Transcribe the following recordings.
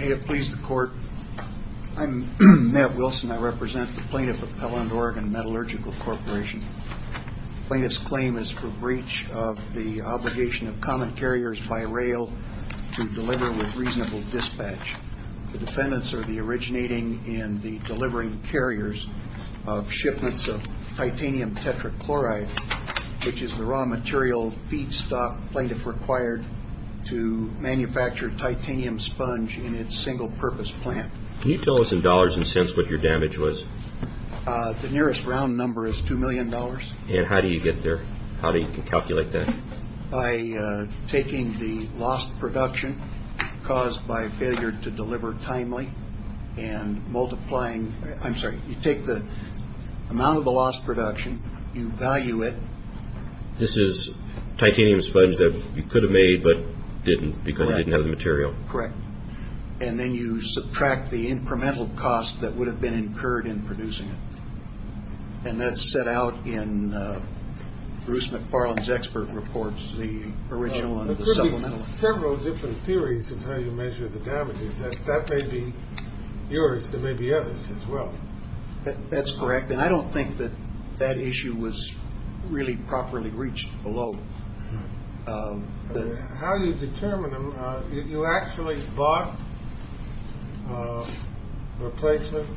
May it please the Court. I'm Matt Wilson. I represent the plaintiff of Pelland, Oregon Metallurgical Corporation. The plaintiff's claim is for breach of the obligation of common carriers by rail to deliver with reasonable dispatch. The defendants are the originating and the delivering carriers of shipments of titanium tetrachloride, which is the raw material feedstock plaintiff required to manufacture titanium sponge in its single-purpose plant. Can you tell us in dollars and cents what your damage was? The nearest round number is $2 million. And how do you get there? How do you calculate that? By taking the lost production caused by failure to deliver timely and multiplying – I'm sorry. You take the amount of the lost production. You value it. This is titanium sponge that you could have made but didn't because it didn't have the material. Correct. And then you subtract the incremental cost that would have been incurred in producing it. And that's set out in Bruce McFarland's expert reports, the original and the supplemental. There are several different theories of how you measure the damages. That may be yours. There may be others as well. That's correct. And I don't think that that issue was really properly reached below. How do you determine them? You actually bought replacement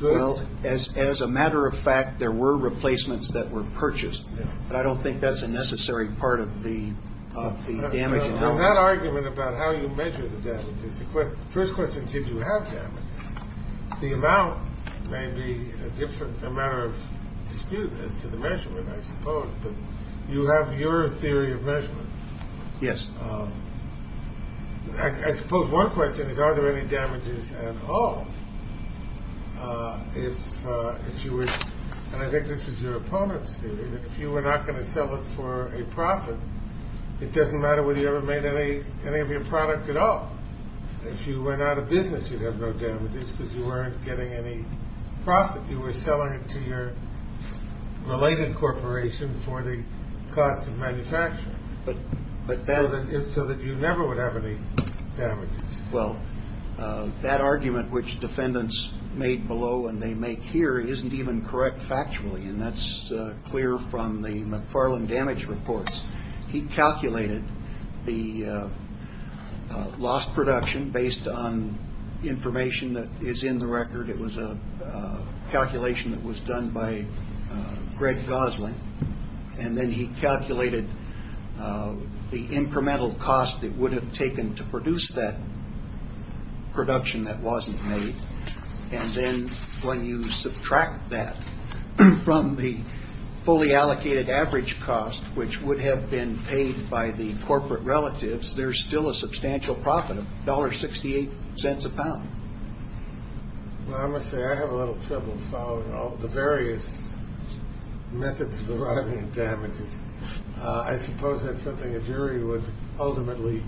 goods? Well, as a matter of fact, there were replacements that were purchased. But I don't think that's a necessary part of the damage analysis. That argument about how you measure the damages – the first question, did you have damage? The amount may be a matter of dispute as to the measurement, I suppose. But you have your theory of measurement. Yes. I suppose one question is, are there any damages at all? If you were – and I think this is your opponent's theory – if you were not going to sell it for a profit, it doesn't matter whether you ever made any of your product at all. If you were not a business, you'd have no damages because you weren't getting any profit. You were selling it to your related corporation for the cost of manufacturing. So that you never would have any damages. Well, that argument which defendants made below and they make here isn't even correct factually, and that's clear from the McFarland damage reports. He calculated the lost production based on information that is in the record. It was a calculation that was done by Greg Gosling. And then he calculated the incremental cost it would have taken to produce that production that wasn't made. And then when you subtract that from the fully allocated average cost, which would have been paid by the corporate relatives, there's still a substantial profit of $1.68 a pound. Well, I must say I have a little trouble following all the various methods of arriving at damages. I suppose that's something a jury would ultimately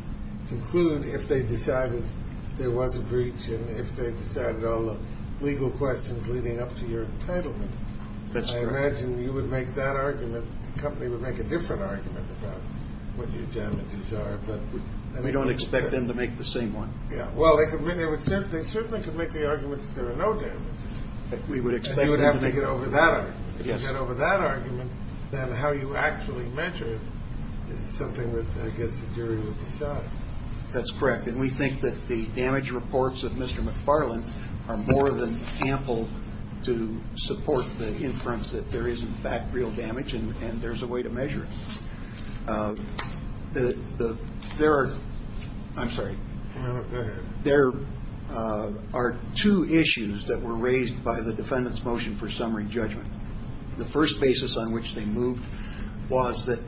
conclude if they decided there was a breach and if they decided all the legal questions leading up to your entitlement. That's true. I imagine you would make that argument. The company would make a different argument about what your damages are. We don't expect them to make the same one. Well, they certainly could make the argument that there are no damages. We would expect them to make it over that argument. If you get over that argument, then how you actually measure it is something that I guess the jury would decide. That's correct. And we think that the damage reports of Mr. McFarland are more than ample to support the inference that there is, in fact, real damage and there's a way to measure it. There are two issues that were raised by the defendant's motion for summary judgment. The first basis on which they moved was that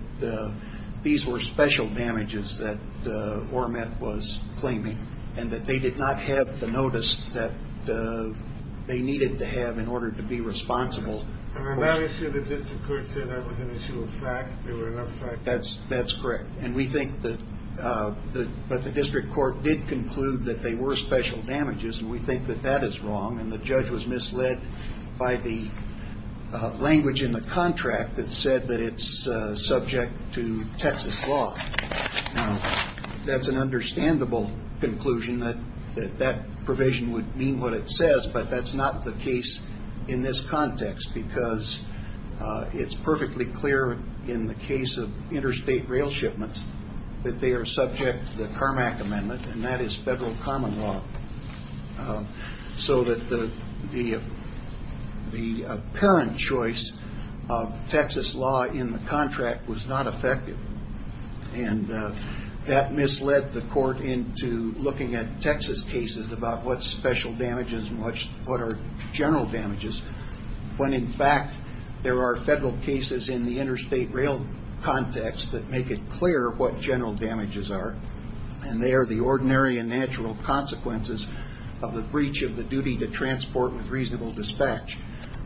these were special damages that Ormet was claiming and that they did not have the notice that they needed to have in order to be responsible. And on that issue, the district court said that was an issue of fact. They were not fact. That's correct. And we think that the district court did conclude that they were special damages, and we think that that is wrong, and the judge was misled by the language in the contract that said that it's subject to Texas law. Now, that's an understandable conclusion that that provision would mean what it says, but that's not the case in this context because it's perfectly clear in the case of interstate rail shipments that they are subject to the Carmack Amendment, and that is federal common law, so that the apparent choice of Texas law in the contract was not effective. And that misled the court into looking at Texas cases about what special damages and what are general damages when, in fact, there are federal cases in the interstate rail context that make it clear what general damages are, and they are the ordinary and natural consequences of the breach of the duty to transport with reasonable dispatch.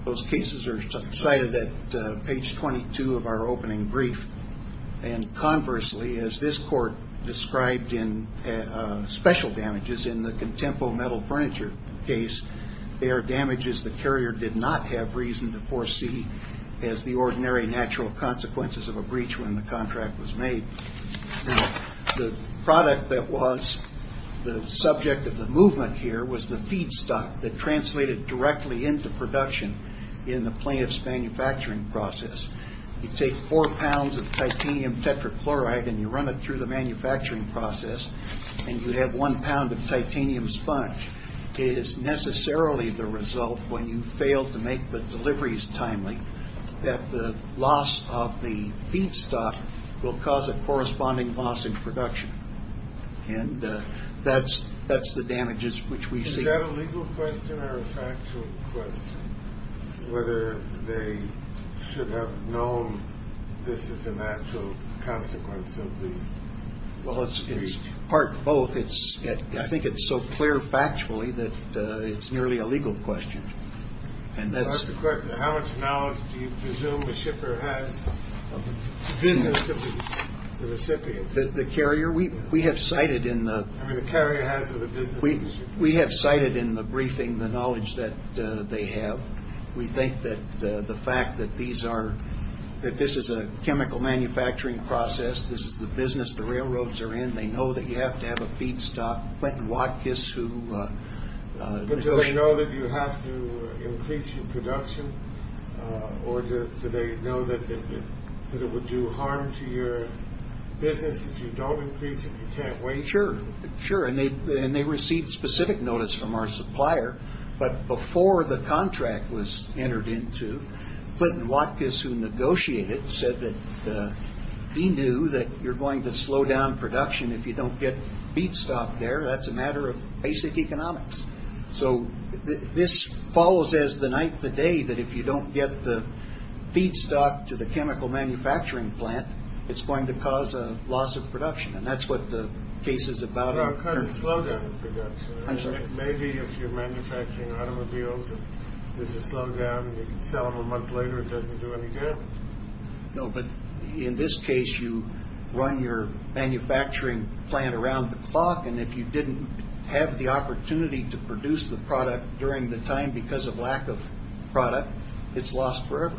Those cases are cited at page 22 of our opening brief, and conversely, as this court described special damages in the Contempo Metal Furniture case, they are damages the carrier did not have reason to foresee as the ordinary and natural consequences of a breach when the contract was made. Now, the product that was the subject of the movement here was the feedstock that translated directly into production in the plaintiff's manufacturing process. You take four pounds of titanium tetrachloride, and you run it through the manufacturing process, and you have one pound of titanium sponge. It is necessarily the result when you fail to make the deliveries timely that the loss of the feedstock will cause a corresponding loss in production, and that's the damages which we see. Is that a legal question or a factual question, whether they should have known this is a natural consequence of the breach? Well, it's part both. I think it's so clear factually that it's nearly a legal question. And that's the question. How much knowledge do you presume the shipper has of the business of the recipient? The carrier? We have cited in the... We have cited in the briefing the knowledge that they have. We think that the fact that this is a chemical manufacturing process, this is the business the railroads are in, they know that you have to have a feedstock. Clinton Watkiss, who... But do they know that you have to increase your production, or do they know that it would do harm to your business if you don't increase it, you can't wait? Sure, sure, and they received specific notice from our supplier. But before the contract was entered into, Clinton Watkiss, who negotiated, said that he knew that you're going to slow down production if you don't get feedstock there. That's a matter of basic economics. So this follows as the night of the day that if you don't get the feedstock to the chemical manufacturing plant, it's going to cause a loss of production. And that's what the case is about. No, it causes slowdown in production. Maybe if you're manufacturing automobiles and there's a slowdown, and you sell them a month later, it doesn't do any good. No, but in this case, you run your manufacturing plant around the clock, and if you didn't have the opportunity to produce the product during the time because of lack of product, it's lost forever.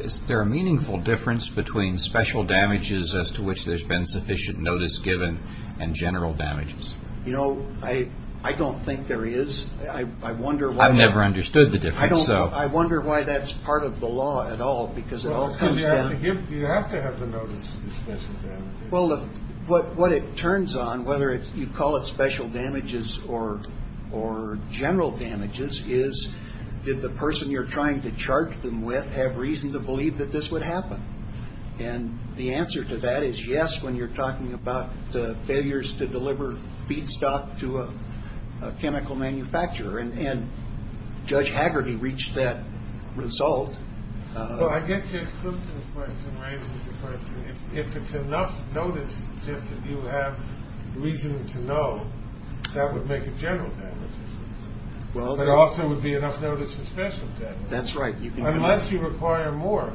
Is there a meaningful difference between special damages, as to which there's been sufficient notice given, and general damages? You know, I don't think there is. I've never understood the difference. I wonder why that's part of the law at all, because it all comes down. You have to have the notice of special damages. Well, what it turns on, whether you call it special damages or general damages, is did the person you're trying to charge them with have reason to believe that this would happen? And the answer to that is yes, when you're talking about the failures to deliver feedstock to a chemical manufacturer. And Judge Haggerty reached that result. Well, I get to include some questions and raise some questions. If it's enough notice just that you have reason to know, that would make it general damages. It also would be enough notice for special damages. That's right. Unless you require more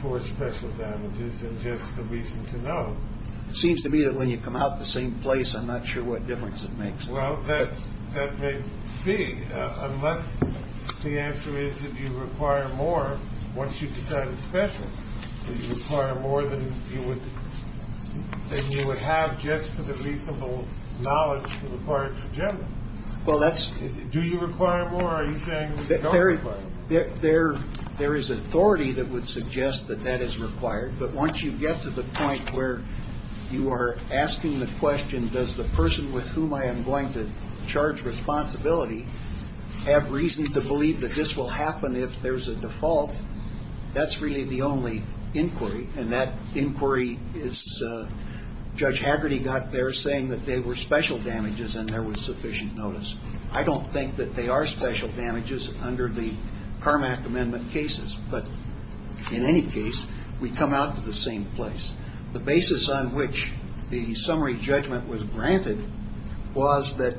for special damages than just the reason to know. It seems to me that when you come out the same place, I'm not sure what difference it makes. Well, that may be. Unless the answer is that you require more once you decide it's special. You require more than you would have just for the reasonable knowledge required for general. Well, that's do you require more? Are you saying that there is authority that would suggest that that is required? But once you get to the point where you are asking the question, does the person with whom I am going to charge responsibility have reason to believe that this will happen? If there's a default, that's really the only inquiry. And that inquiry is Judge Haggerty got there saying that they were special damages and there was sufficient notice. I don't think that they are special damages under the Carmack Amendment cases. But in any case, we come out to the same place. The basis on which the summary judgment was granted was that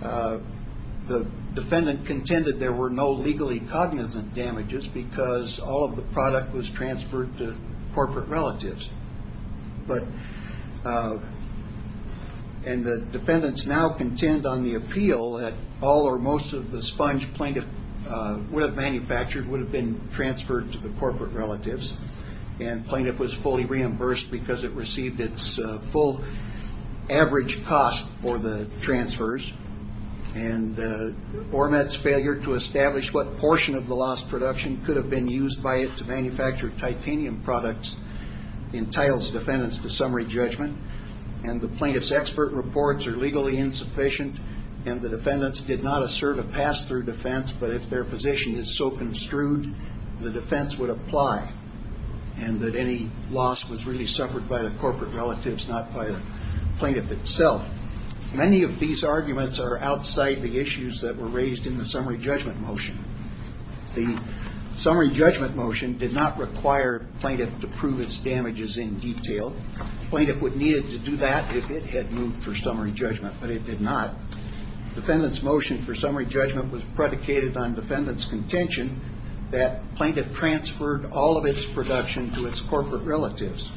the defendant contended there were no legally cognizant damages because all of the product was transferred to corporate relatives. And the defendants now contend on the appeal that all or most of the sponge plaintiff would have manufactured would have been transferred to the corporate relatives. And plaintiff was fully reimbursed because it received its full average cost for the transfers. And Ormetz's failure to establish what portion of the lost production could have been used by it to manufacture titanium products entitles defendants to summary judgment. And the plaintiff's expert reports are legally insufficient. And the defendants did not assert a pass-through defense. But if their position is so construed, the defense would apply. And that any loss was really suffered by the corporate relatives, not by the plaintiff itself. Many of these arguments are outside the issues that were raised in the summary judgment motion. The summary judgment motion did not require plaintiff to prove its damages in detail. Plaintiff would need to do that if it had moved for summary judgment. But it did not. Defendant's motion for summary judgment was predicated on defendant's contention that plaintiff transferred all of its production to its corporate relatives.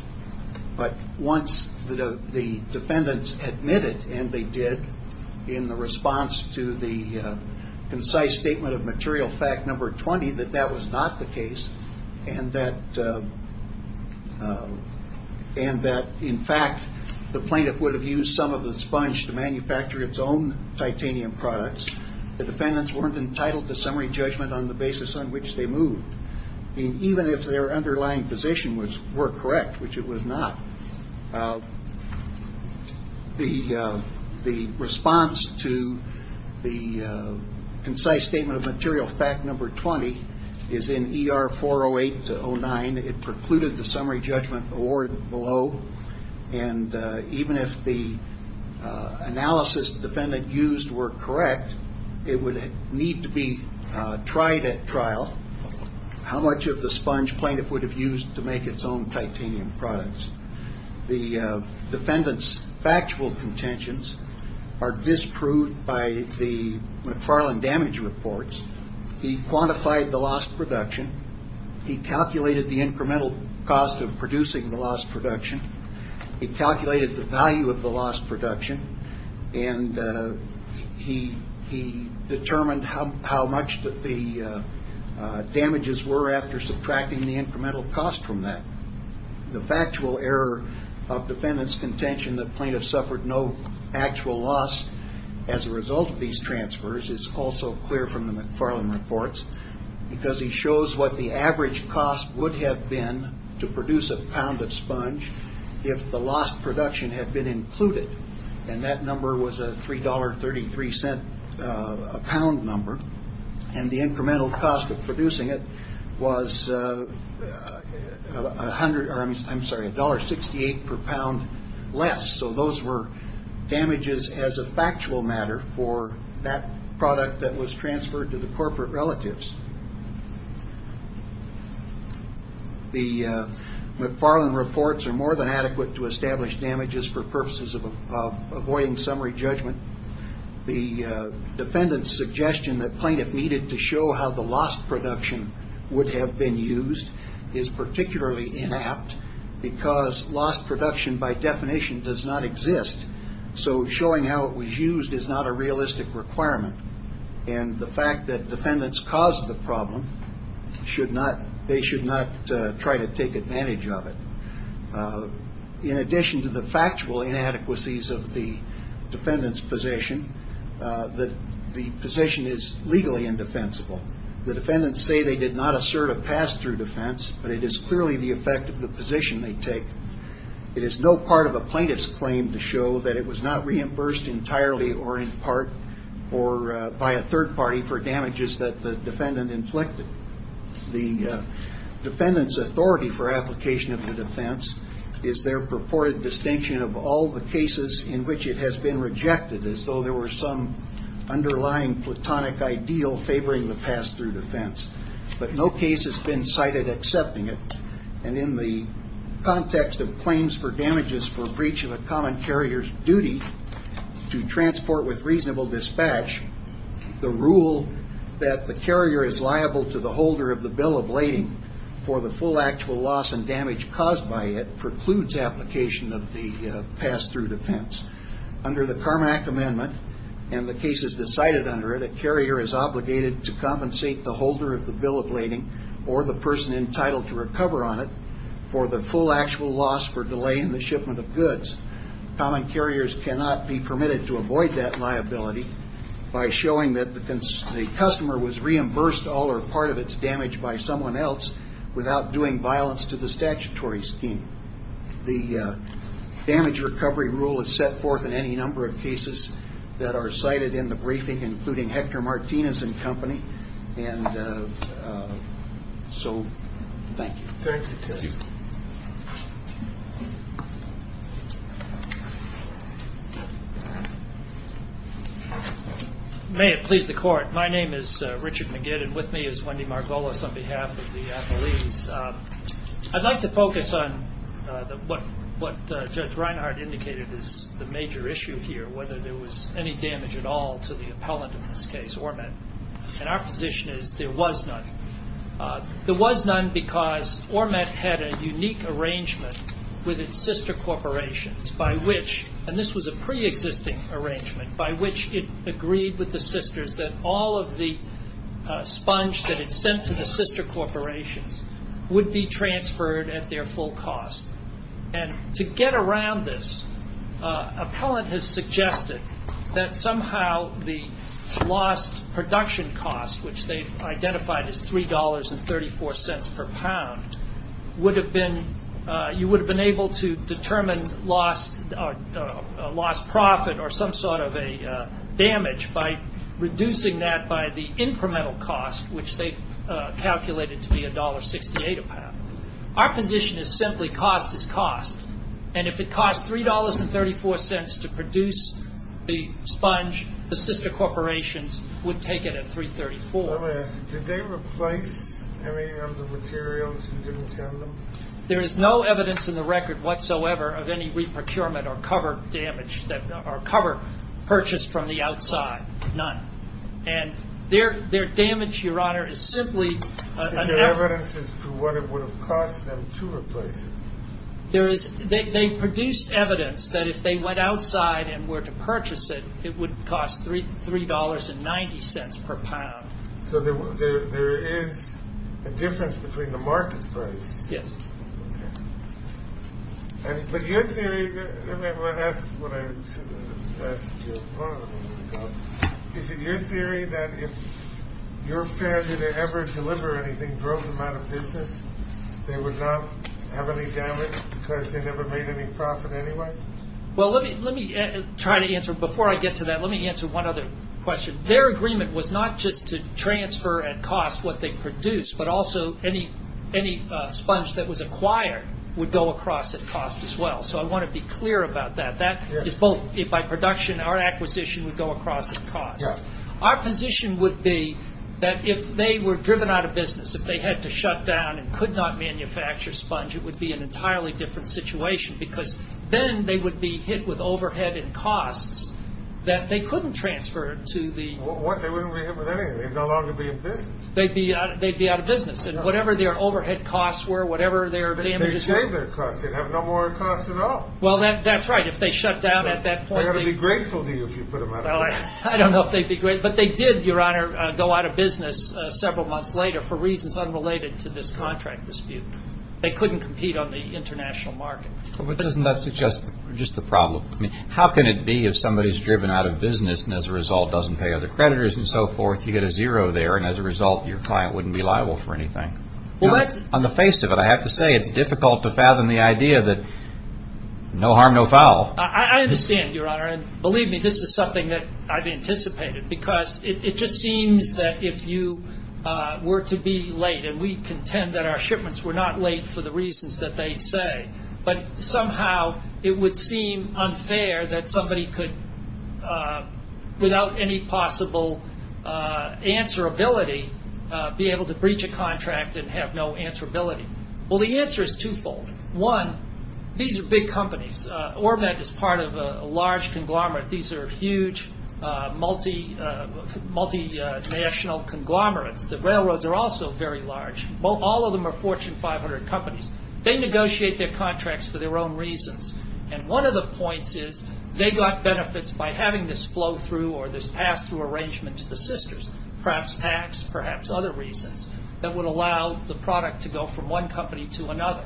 But once the defendants admitted, and they did, in the response to the concise statement of material fact number 20 that that was not the case, and that in fact the plaintiff would have used some of the sponge to manufacture its own titanium products, the defendants weren't entitled to summary judgment on the basis on which they moved. And even if their underlying position were correct, which it was not, the response to the concise statement of material fact number 20 is in ER 408-09. It precluded the summary judgment award below. And even if the analysis the defendant used were correct, it would need to be tried at trial how much of the sponge plaintiff would have used to make its own titanium products. The defendant's factual contentions are disproved by the McFarland damage reports. He quantified the lost production. He calculated the incremental cost of producing the lost production. He calculated the value of the lost production. And he determined how much the damages were after subtracting the incremental cost from that. The factual error of defendant's contention that plaintiffs suffered no actual loss as a result of these transfers is also clear from the McFarland reports, because he shows what the average cost would have been to produce a pound of sponge if the lost production had been included. And that number was a $3.33 a pound number. And the incremental cost of producing it was $1.68 per pound less. So those were damages as a factual matter for that product that was transferred to the corporate relatives. The McFarland reports are more than adequate to establish damages for purposes of avoiding summary judgment. The defendant's suggestion that plaintiff needed to show how the lost production would have been used is particularly inapt, because lost production by definition does not exist. So showing how it was used is not a realistic requirement. And the fact that defendants caused the problem, they should not try to take advantage of it. In addition to the factual inadequacies of the defendant's position, the position is legally indefensible. The defendants say they did not assert a pass-through defense, but it is clearly the effect of the position they take. It is no part of a plaintiff's claim to show that it was not reimbursed entirely or in part or by a third party for damages that the defendant inflicted. The defendant's authority for application of the defense is their purported distinction of all the cases in which it has been rejected as though there were some underlying platonic ideal favoring the pass-through defense. But no case has been cited accepting it. And in the context of claims for damages for breach of a common carrier's duty to transport with reasonable dispatch, the rule that the carrier is liable to the holder of the bill of lading for the full actual loss and damage caused by it precludes application of the pass-through defense. Under the Carmack Amendment, and the cases decided under it, the carrier is obligated to compensate the holder of the bill of lading or the person entitled to recover on it for the full actual loss for delay in the shipment of goods. Common carriers cannot be permitted to avoid that liability by showing that the customer was reimbursed all or part of its damage by someone else without doing violence to the statutory scheme. The damage recovery rule is set forth in any number of cases that are cited in the briefing, including Hector Martinez and company. And so, thank you. Thank you, Terry. May it please the court. My name is Richard McGid, and with me is Wendy Margolis on behalf of the attorneys. I'd like to focus on what Judge Reinhart indicated is the major issue here, whether there was any damage at all to the appellant in this case, Ormet. And our position is there was none. There was none because Ormet had a unique arrangement with its sister corporations by which, and this was a preexisting arrangement, by which it agreed with the sisters that all of the sponge that it sent to the sister corporations would be transferred at their full cost. And to get around this, appellant has suggested that somehow the lost production cost, which they've identified as $3.34 per pound, you would have been able to determine lost profit or some sort of a damage by reducing that by the incremental cost, which they've calculated to be $1.68 a pound. Our position is simply cost is cost. And if it costs $3.34 to produce the sponge, the sister corporations would take it at $3.34. I'm going to ask you, did they replace any of the materials you didn't send them? There is no evidence in the record whatsoever of any re-procurement or cover purchased from the outside. None. And their damage, Your Honor, is simply... Is there evidence as to what it would have cost them to replace it? There is. They produced evidence that if they went outside and were to purchase it, it would cost $3.90 per pound. So there is a difference between the market price. Yes. Okay. But your theory... Let me ask what I asked you a moment ago. Is it your theory that if your failure to ever deliver anything drove them out of business, they would not have any damage because they never made any profit anyway? Well, let me try to answer. Before I get to that, let me answer one other question. Their agreement was not just to transfer at cost what they produced, but also any sponge that was acquired would go across at cost as well. So I want to be clear about that. By production, our acquisition would go across at cost. Our position would be that if they were driven out of business, if they had to shut down and could not manufacture sponge, it would be an entirely different situation because then they would be hit with overhead and costs that they couldn't transfer to the... What? They wouldn't be hit with anything. They'd no longer be in business. They'd be out of business. And whatever their overhead costs were, whatever their damages... But they'd save their costs. They'd have no more costs at all. Well, that's right. If they shut down at that point... They're going to be grateful to you if you put them out of business. I don't know if they'd be grateful. But they did, Your Honor, go out of business several months later for reasons unrelated to this contract dispute. They couldn't compete on the international market. But doesn't that suggest just the problem? I mean, how can it be if somebody's driven out of business and as a result doesn't pay other creditors and so forth, you get a zero there and as a result your client wouldn't be liable for anything? Well, that's... On the face of it, I have to say it's difficult to fathom the idea that no harm, no foul. I understand, Your Honor. And believe me, this is something that I've anticipated because it just seems that if you were to be late and we contend that our shipments were not late for the reasons that they say, but somehow it would seem unfair that somebody could, without any possible answerability, be able to breach a contract and have no answerability. Well, the answer is twofold. One, these are big companies. Ormet is part of a large conglomerate. These are huge, multinational conglomerates. The railroads are also very large. All of them are Fortune 500 companies. They negotiate their contracts for their own reasons. And one of the points is they got benefits by having this flow through or this pass-through arrangement to the sisters, perhaps tax, perhaps other reasons, that would allow the product to go from one company to another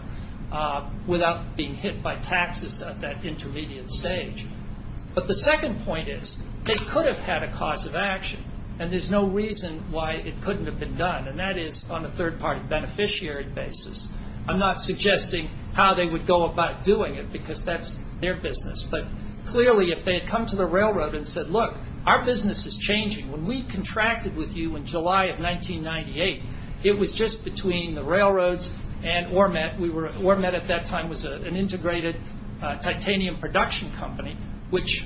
without being hit by taxes at that intermediate stage. But the second point is they could have had a cause of action and there's no reason why it couldn't have been done, and that is on a third-party beneficiary basis. I'm not suggesting how they would go about doing it because that's their business, but clearly if they had come to the railroad and said, Look, our business is changing. When we contracted with you in July of 1998, it was just between the railroads and Ormet. Ormet at that time was an integrated titanium production company which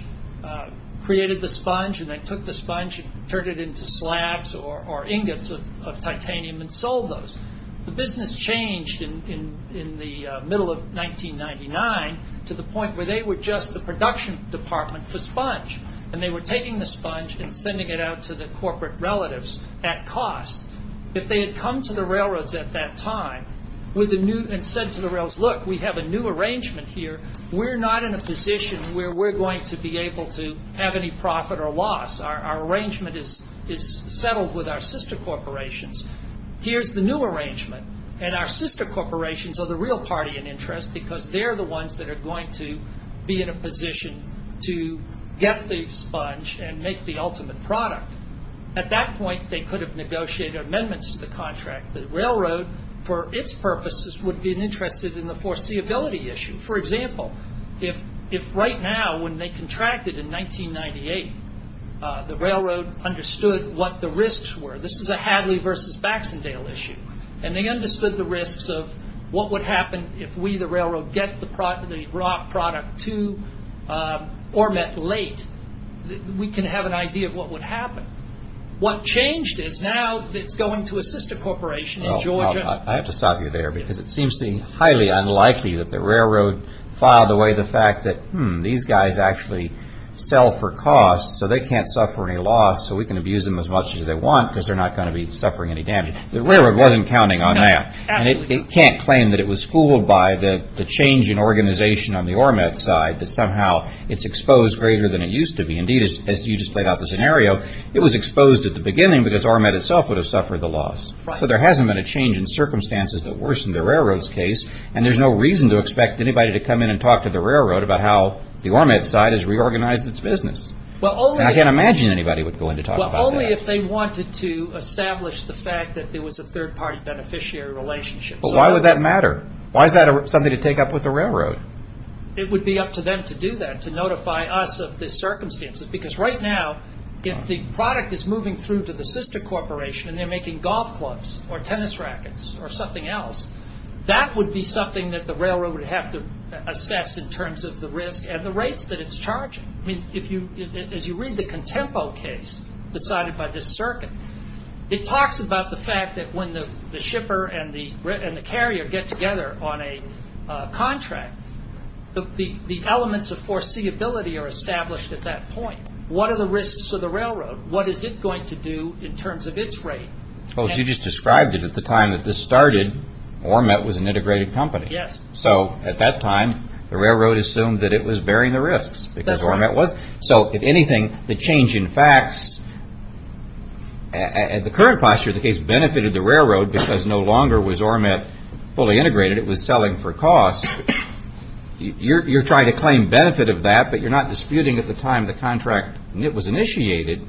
created the sponge and they took the sponge and turned it into slabs or ingots of titanium and sold those. The business changed in the middle of 1999 to the point where they were just the production department for sponge, and they were taking the sponge and sending it out to the corporate relatives at cost. If they had come to the railroads at that time and said to the railroads, Look, we have a new arrangement here. We're not in a position where we're going to be able to have any profit or loss. Our arrangement is settled with our sister corporations. Here's the new arrangement, and our sister corporations are the real party in interest because they're the ones that are going to be in a position to get the sponge and make the ultimate product. At that point, they could have negotiated amendments to the contract. The railroad, for its purposes, would be interested in the foreseeability issue. For example, if right now when they contracted in 1998, the railroad understood what the risks were. This is a Hadley versus Baxendale issue. They understood the risks of what would happen if we, the railroad, get the raw product too or met late. We can have an idea of what would happen. Well, I have to stop you there because it seems to me highly unlikely that the railroad filed away the fact that, hmm, these guys actually sell for cost so they can't suffer any loss so we can abuse them as much as they want because they're not going to be suffering any damage. The railroad wasn't counting on that. It can't claim that it was fooled by the change in organization on the ORMET side that somehow it's exposed greater than it used to be. Indeed, as you just played out the scenario, it was exposed at the beginning because ORMET itself would have suffered the loss. So there hasn't been a change in circumstances that worsened the railroad's case, and there's no reason to expect anybody to come in and talk to the railroad about how the ORMET side has reorganized its business. I can't imagine anybody would go in to talk about that. Well, only if they wanted to establish the fact that there was a third-party beneficiary relationship. Why would that matter? Why is that something to take up with the railroad? It would be up to them to do that, to notify us of the circumstances because right now if the product is moving through to the sister corporation and they're making golf clubs or tennis rackets or something else, that would be something that the railroad would have to assess in terms of the risk and the rates that it's charging. As you read the Contempo case decided by this circuit, it talks about the fact that when the shipper and the carrier get together on a contract, the elements of foreseeability are established at that point. What are the risks to the railroad? What is it going to do in terms of its rate? Well, as you just described it at the time that this started, ORMET was an integrated company. Yes. So at that time, the railroad assumed that it was bearing the risks because ORMET was. So if anything, the change in facts at the current posture, the case benefited the railroad because no longer was ORMET fully integrated, it was selling for cost. You're trying to claim benefit of that, but you're not disputing at the time the contract was initiated,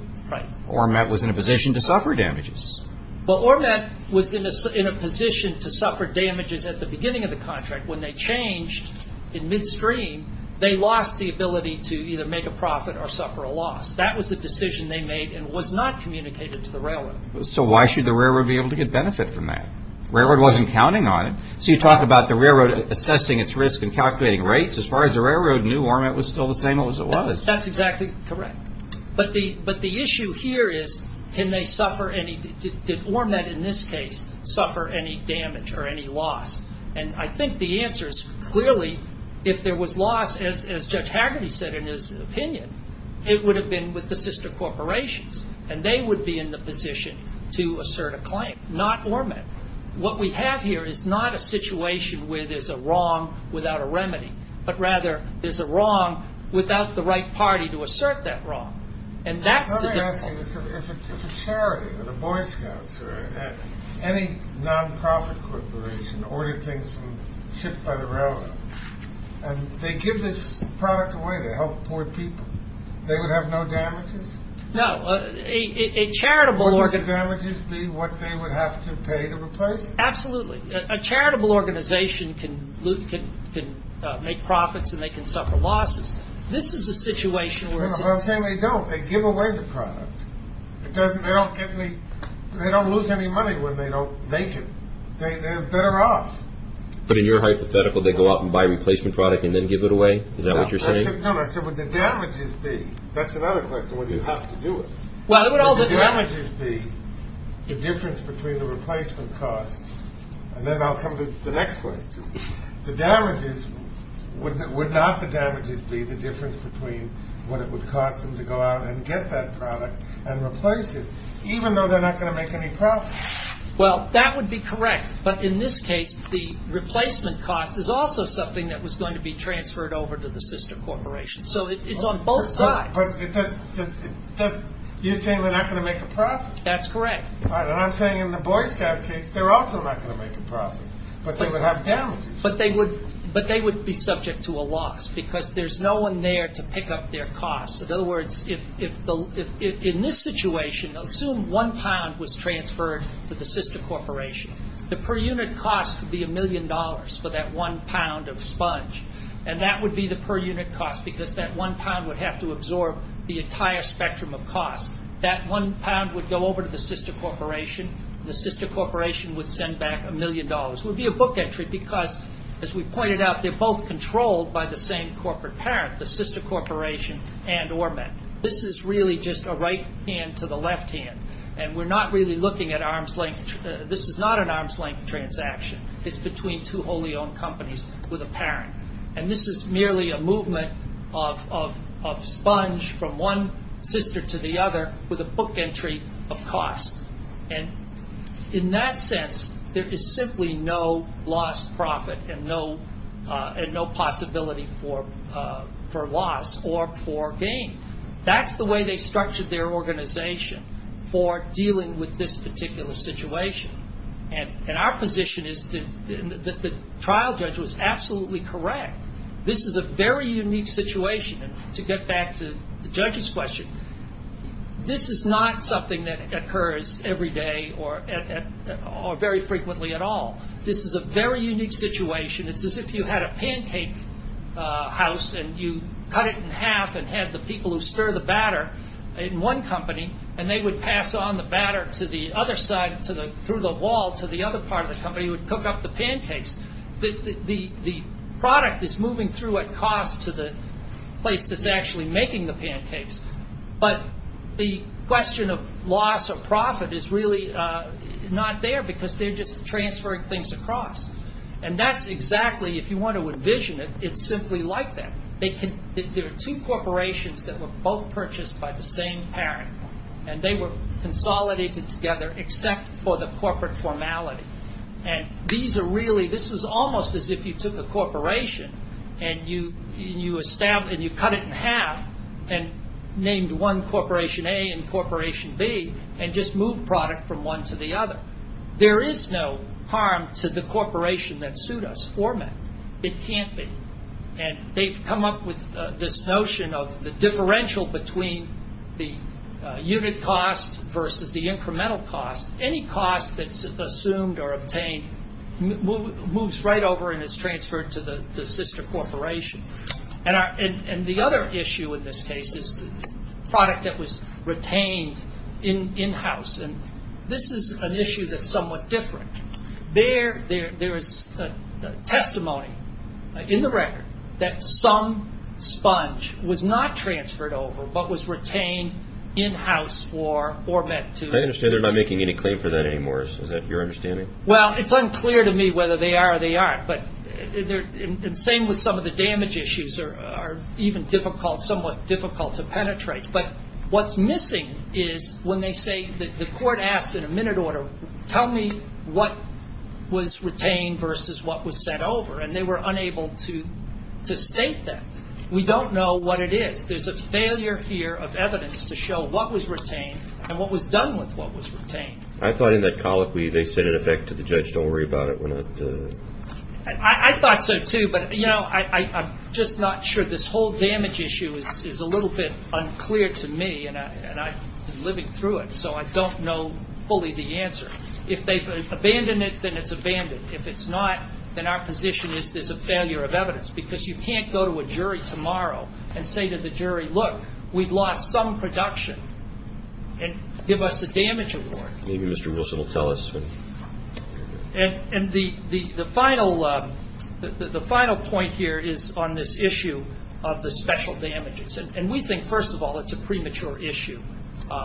ORMET was in a position to suffer damages. Well, ORMET was in a position to suffer damages at the beginning of the contract. When they changed in midstream, they lost the ability to either make a profit or suffer a loss. That was the decision they made and was not communicated to the railroad. So why should the railroad be able to get benefit from that? Railroad wasn't counting on it. So you talk about the railroad assessing its risk and calculating rates. As far as the railroad knew, ORMET was still the same as it was. That's exactly correct. But the issue here is did ORMET in this case suffer any damage or any loss? And I think the answer is clearly if there was loss, as Judge Hagerty said in his opinion, it would have been with the sister corporations, and they would be in the position to assert a claim, not ORMET. What we have here is not a situation where there's a wrong without a remedy, but rather there's a wrong without the right party to assert that wrong. And that's the difference. Let me ask you this. If a charity or the Boy Scouts or any non-profit corporation ordered things shipped by the railroad, and they give this product away to help poor people, they would have no damages? No. Wouldn't the damages be what they would have to pay to replace it? Absolutely. A charitable organization can make profits and they can suffer losses. This is a situation where it's the same. Well, I'm saying they don't. They give away the product. They don't lose any money when they don't make it. They're better off. But in your hypothetical, they go out and buy a replacement product and then give it away? Is that what you're saying? No. I said would the damages be? That's another question. Would you have to do it? Would the damages be the difference between the replacement cost? And then I'll come to the next question. The damages, would not the damages be the difference between what it would cost them to go out and get that product and replace it, even though they're not going to make any profit? Well, that would be correct. But in this case, the replacement cost is also something that was going to be transferred over to the sister corporation. So it's on both sides. But you're saying they're not going to make a profit? That's correct. All right. And I'm saying in the Boy Scout case, they're also not going to make a profit, but they would have damages. But they would be subject to a loss because there's no one there to pick up their costs. In other words, in this situation, assume one pound was transferred to the sister corporation. The per unit cost would be a million dollars for that one pound of sponge, and that would be the per unit cost because that one pound would have to absorb the entire spectrum of cost. That one pound would go over to the sister corporation. The sister corporation would send back a million dollars. It would be a book entry because, as we pointed out, they're both controlled by the same corporate parent, the sister corporation and ORMET. This is really just a right hand to the left hand, and we're not really looking at arm's length. This is not an arm's length transaction. It's between two wholly owned companies with a parent. And this is merely a movement of sponge from one sister to the other with a book entry of cost. And in that sense, there is simply no lost profit and no possibility for loss or for gain. That's the way they structured their organization for dealing with this particular situation. And our position is that the trial judge was absolutely correct. This is a very unique situation. And to get back to the judge's question, this is not something that occurs every day or very frequently at all. This is a very unique situation. It's as if you had a pancake house and you cut it in half and had the people who stir the batter in one company, and they would pass on the batter to the other side through the wall to the other part of the company who would cook up the pancakes. The product is moving through at cost to the place that's actually making the pancakes. But the question of loss or profit is really not there because they're just transferring things across. And that's exactly, if you want to envision it, it's simply like that. There are two corporations that were both purchased by the same parent, and they were consolidated together except for the corporate formality. And this was almost as if you took a corporation and you cut it in half and named one corporation A and corporation B and just moved product from one to the other. There is no harm to the corporation that sued us, Forman. It can't be. And they've come up with this notion of the differential between the unit cost versus the incremental cost. Any cost that's assumed or obtained moves right over and is transferred to the sister corporation. And the other issue in this case is the product that was retained in-house, and this is an issue that's somewhat different. There is testimony in the record that some sponge was not transferred over, but was retained in-house for, or meant to. I understand they're not making any claim for that anymore. Is that your understanding? Well, it's unclear to me whether they are or they aren't. But the same with some of the damage issues are even difficult, somewhat difficult to penetrate. But what's missing is when they say that the court asked in a minute order, tell me what was retained versus what was sent over, and they were unable to state that. We don't know what it is. There's a failure here of evidence to show what was retained and what was done with what was retained. I thought in that colloquy they said, in effect, to the judge, don't worry about it. I thought so, too. But, you know, I'm just not sure. This whole damage issue is a little bit unclear to me, and I'm living through it, so I don't know fully the answer. If they've abandoned it, then it's abandoned. If it's not, then our position is there's a failure of evidence, because you can't go to a jury tomorrow and say to the jury, look, we've lost some production, and give us a damage award. Maybe Mr. Wilson will tell us. And the final point here is on this issue of the special damages. And we think, first of all, it's a premature issue.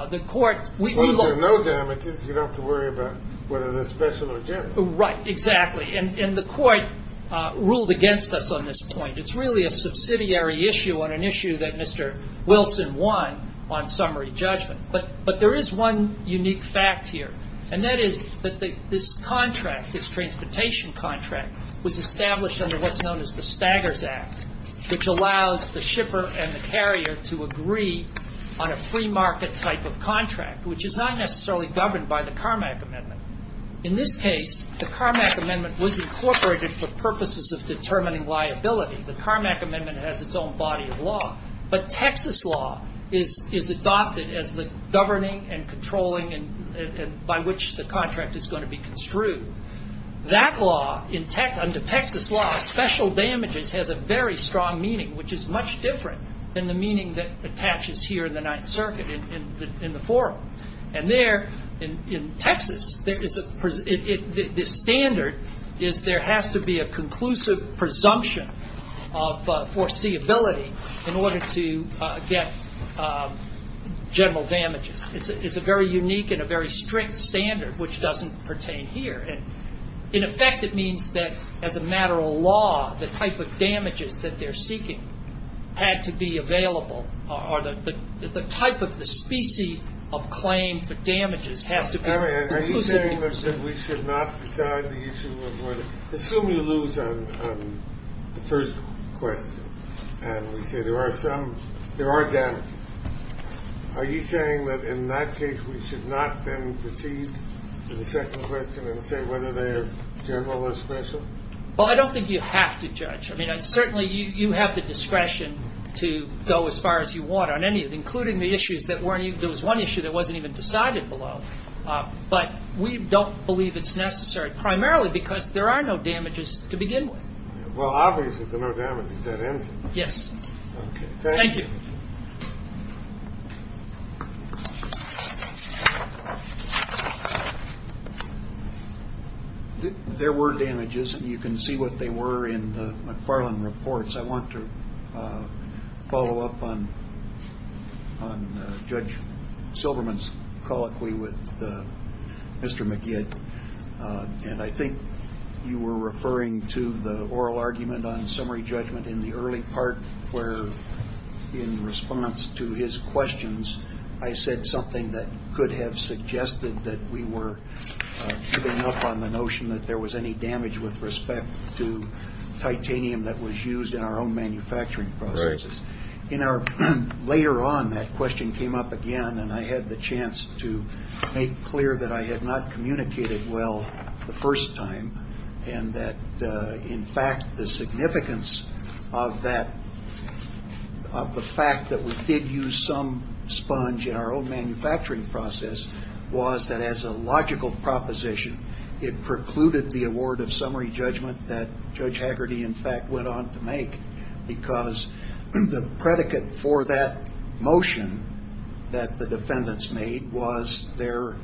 The court we look- Well, if there are no damages, you don't have to worry about whether they're special or general. Right, exactly. And the court ruled against us on this point. It's really a subsidiary issue on an issue that Mr. Wilson won on summary judgment. But there is one unique fact here, and that is that this contract, this transportation contract, was established under what's known as the Staggers Act, which allows the shipper and the carrier to agree on a free market type of contract, which is not necessarily governed by the Carmack Amendment. In this case, the Carmack Amendment was incorporated for purposes of determining liability. The Carmack Amendment has its own body of law. But Texas law is adopted as the governing and controlling by which the contract is going to be construed. That law, under Texas law, special damages has a very strong meaning, which is much different than the meaning that attaches here in the Ninth Circuit in the forum. And there, in Texas, the standard is there has to be a conclusive presumption of foreseeability in order to get general damages. It's a very unique and a very strict standard, which doesn't pertain here. And, in effect, it means that, as a matter of law, the type of damages that they're seeking had to be available, or the type of the specie of claim for damages has to be conclusive. Are you saying that we should not decide the issue of whether, assume you lose on the first question, and we say there are some, there are damages. Are you saying that, in that case, we should not then proceed to the second question and say whether they are general or special? Well, I don't think you have to judge. I mean, certainly you have the discretion to go as far as you want on any of it, including the issues that weren't even, there was one issue that wasn't even decided below. But we don't believe it's necessary, primarily because there are no damages to begin with. Well, obviously there are no damages. That ends it. Yes. Okay. Thank you. There were damages, and you can see what they were in the McFarland reports. I want to follow up on Judge Silverman's colloquy with Mr. McGead. And I think you were referring to the oral argument on summary judgment in the early part where, in response to his questions, I said something that could have suggested that we were giving up on the notion that there was any damage with respect to titanium that was used in our own manufacturing processes. Later on, that question came up again, and I had the chance to make clear that I had not communicated well the first time and that, in fact, the significance of the fact that we did use some sponge in our own manufacturing process was that, as a logical proposition, it precluded the award of summary judgment that Judge Haggerty, in fact, went on to make, because the predicate for that motion that the defendants made was their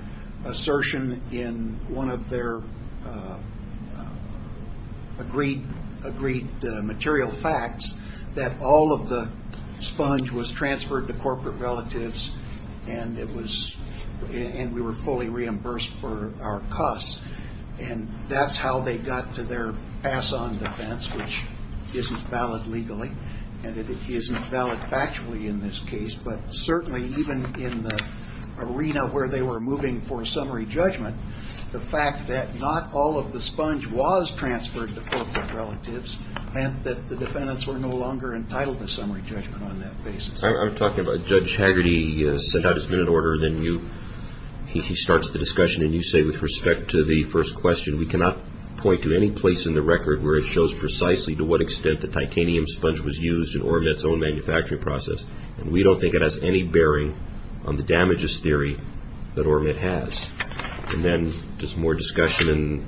assertion in one of their agreed material facts that all of the sponge was transferred to corporate relatives and we were fully reimbursed for our costs. And that's how they got to their pass-on defense, which isn't valid legally, and it isn't valid factually in this case, but certainly even in the arena where they were moving for summary judgment, the fact that not all of the sponge was transferred to corporate relatives meant that the defendants were no longer entitled to summary judgment on that basis. I'm talking about Judge Haggerty sent out his minute order, and then he starts the discussion, and you say, with respect to the first question, we cannot point to any place in the record where it shows precisely to what extent the titanium sponge was used in Ormet's own manufacturing process, and we don't think it has any bearing on the damages theory that Ormet has. And then there's more discussion, and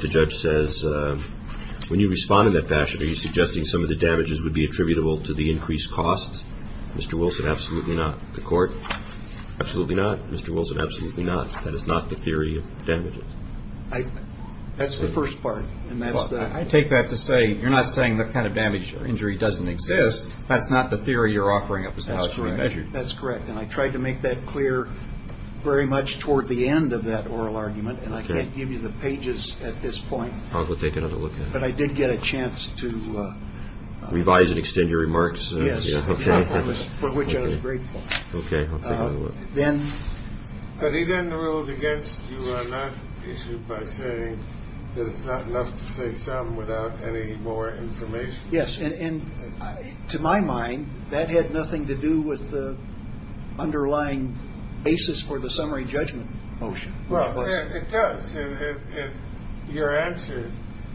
the judge says, when you respond in that fashion, are you suggesting some of the damages would be attributable to the increased costs? Mr. Wilson, absolutely not. The court, absolutely not. Mr. Wilson, absolutely not. That is not the theory of damages. That's the first part, and that's the other. I take that to say you're not saying the kind of damage or injury doesn't exist. That's not the theory you're offering up is how it's really measured. That's correct, and I tried to make that clear very much toward the end, of that oral argument, and I can't give you the pages at this point. I'll go take another look at it. But I did get a chance to revise and extend your remarks. Yes, for which I was grateful. Okay, I'll take another look. But he then ruled against you on that issue by saying that it's not enough to say some without any more information. Yes, and to my mind, that had nothing to do with the underlying basis for the summary judgment motion. Well, it does. Your answer,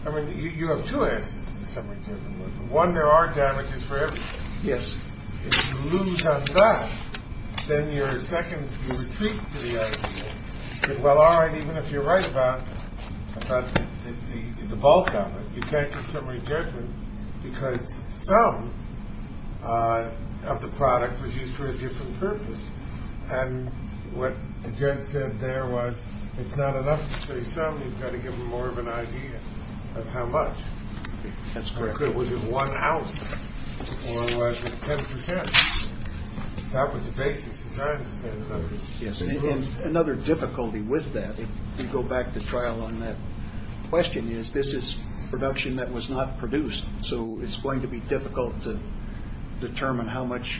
I mean, you have two answers to the summary judgment motion. One, there are damages for everything. Yes. If you lose on that, then you're a second retreat to the argument. Well, all right, even if you're right about the bulk of it, you can't get summary judgment because some of the product was used for a different purpose. And what the judge said there was it's not enough to say some. You've got to give them more of an idea of how much. That's correct. Was it one house or was it 10 percent? That was the basis. Yes, and another difficulty with that, if you go back to trial on that question, is this is production that was not produced. So it's going to be difficult to determine how much.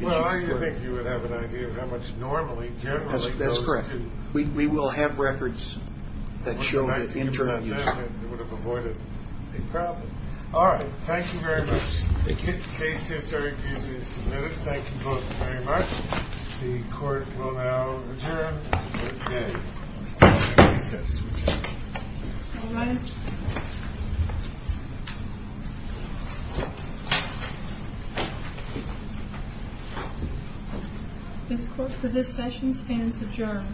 Well, I think you would have an idea of how much normally, generally. That's correct. We will have records that show the interim. It would have avoided a problem. All right. Thank you very much. The case is submitted. Thank you both very much. The court will now adjourn. This court for this session stands adjourned. Court is adjourned.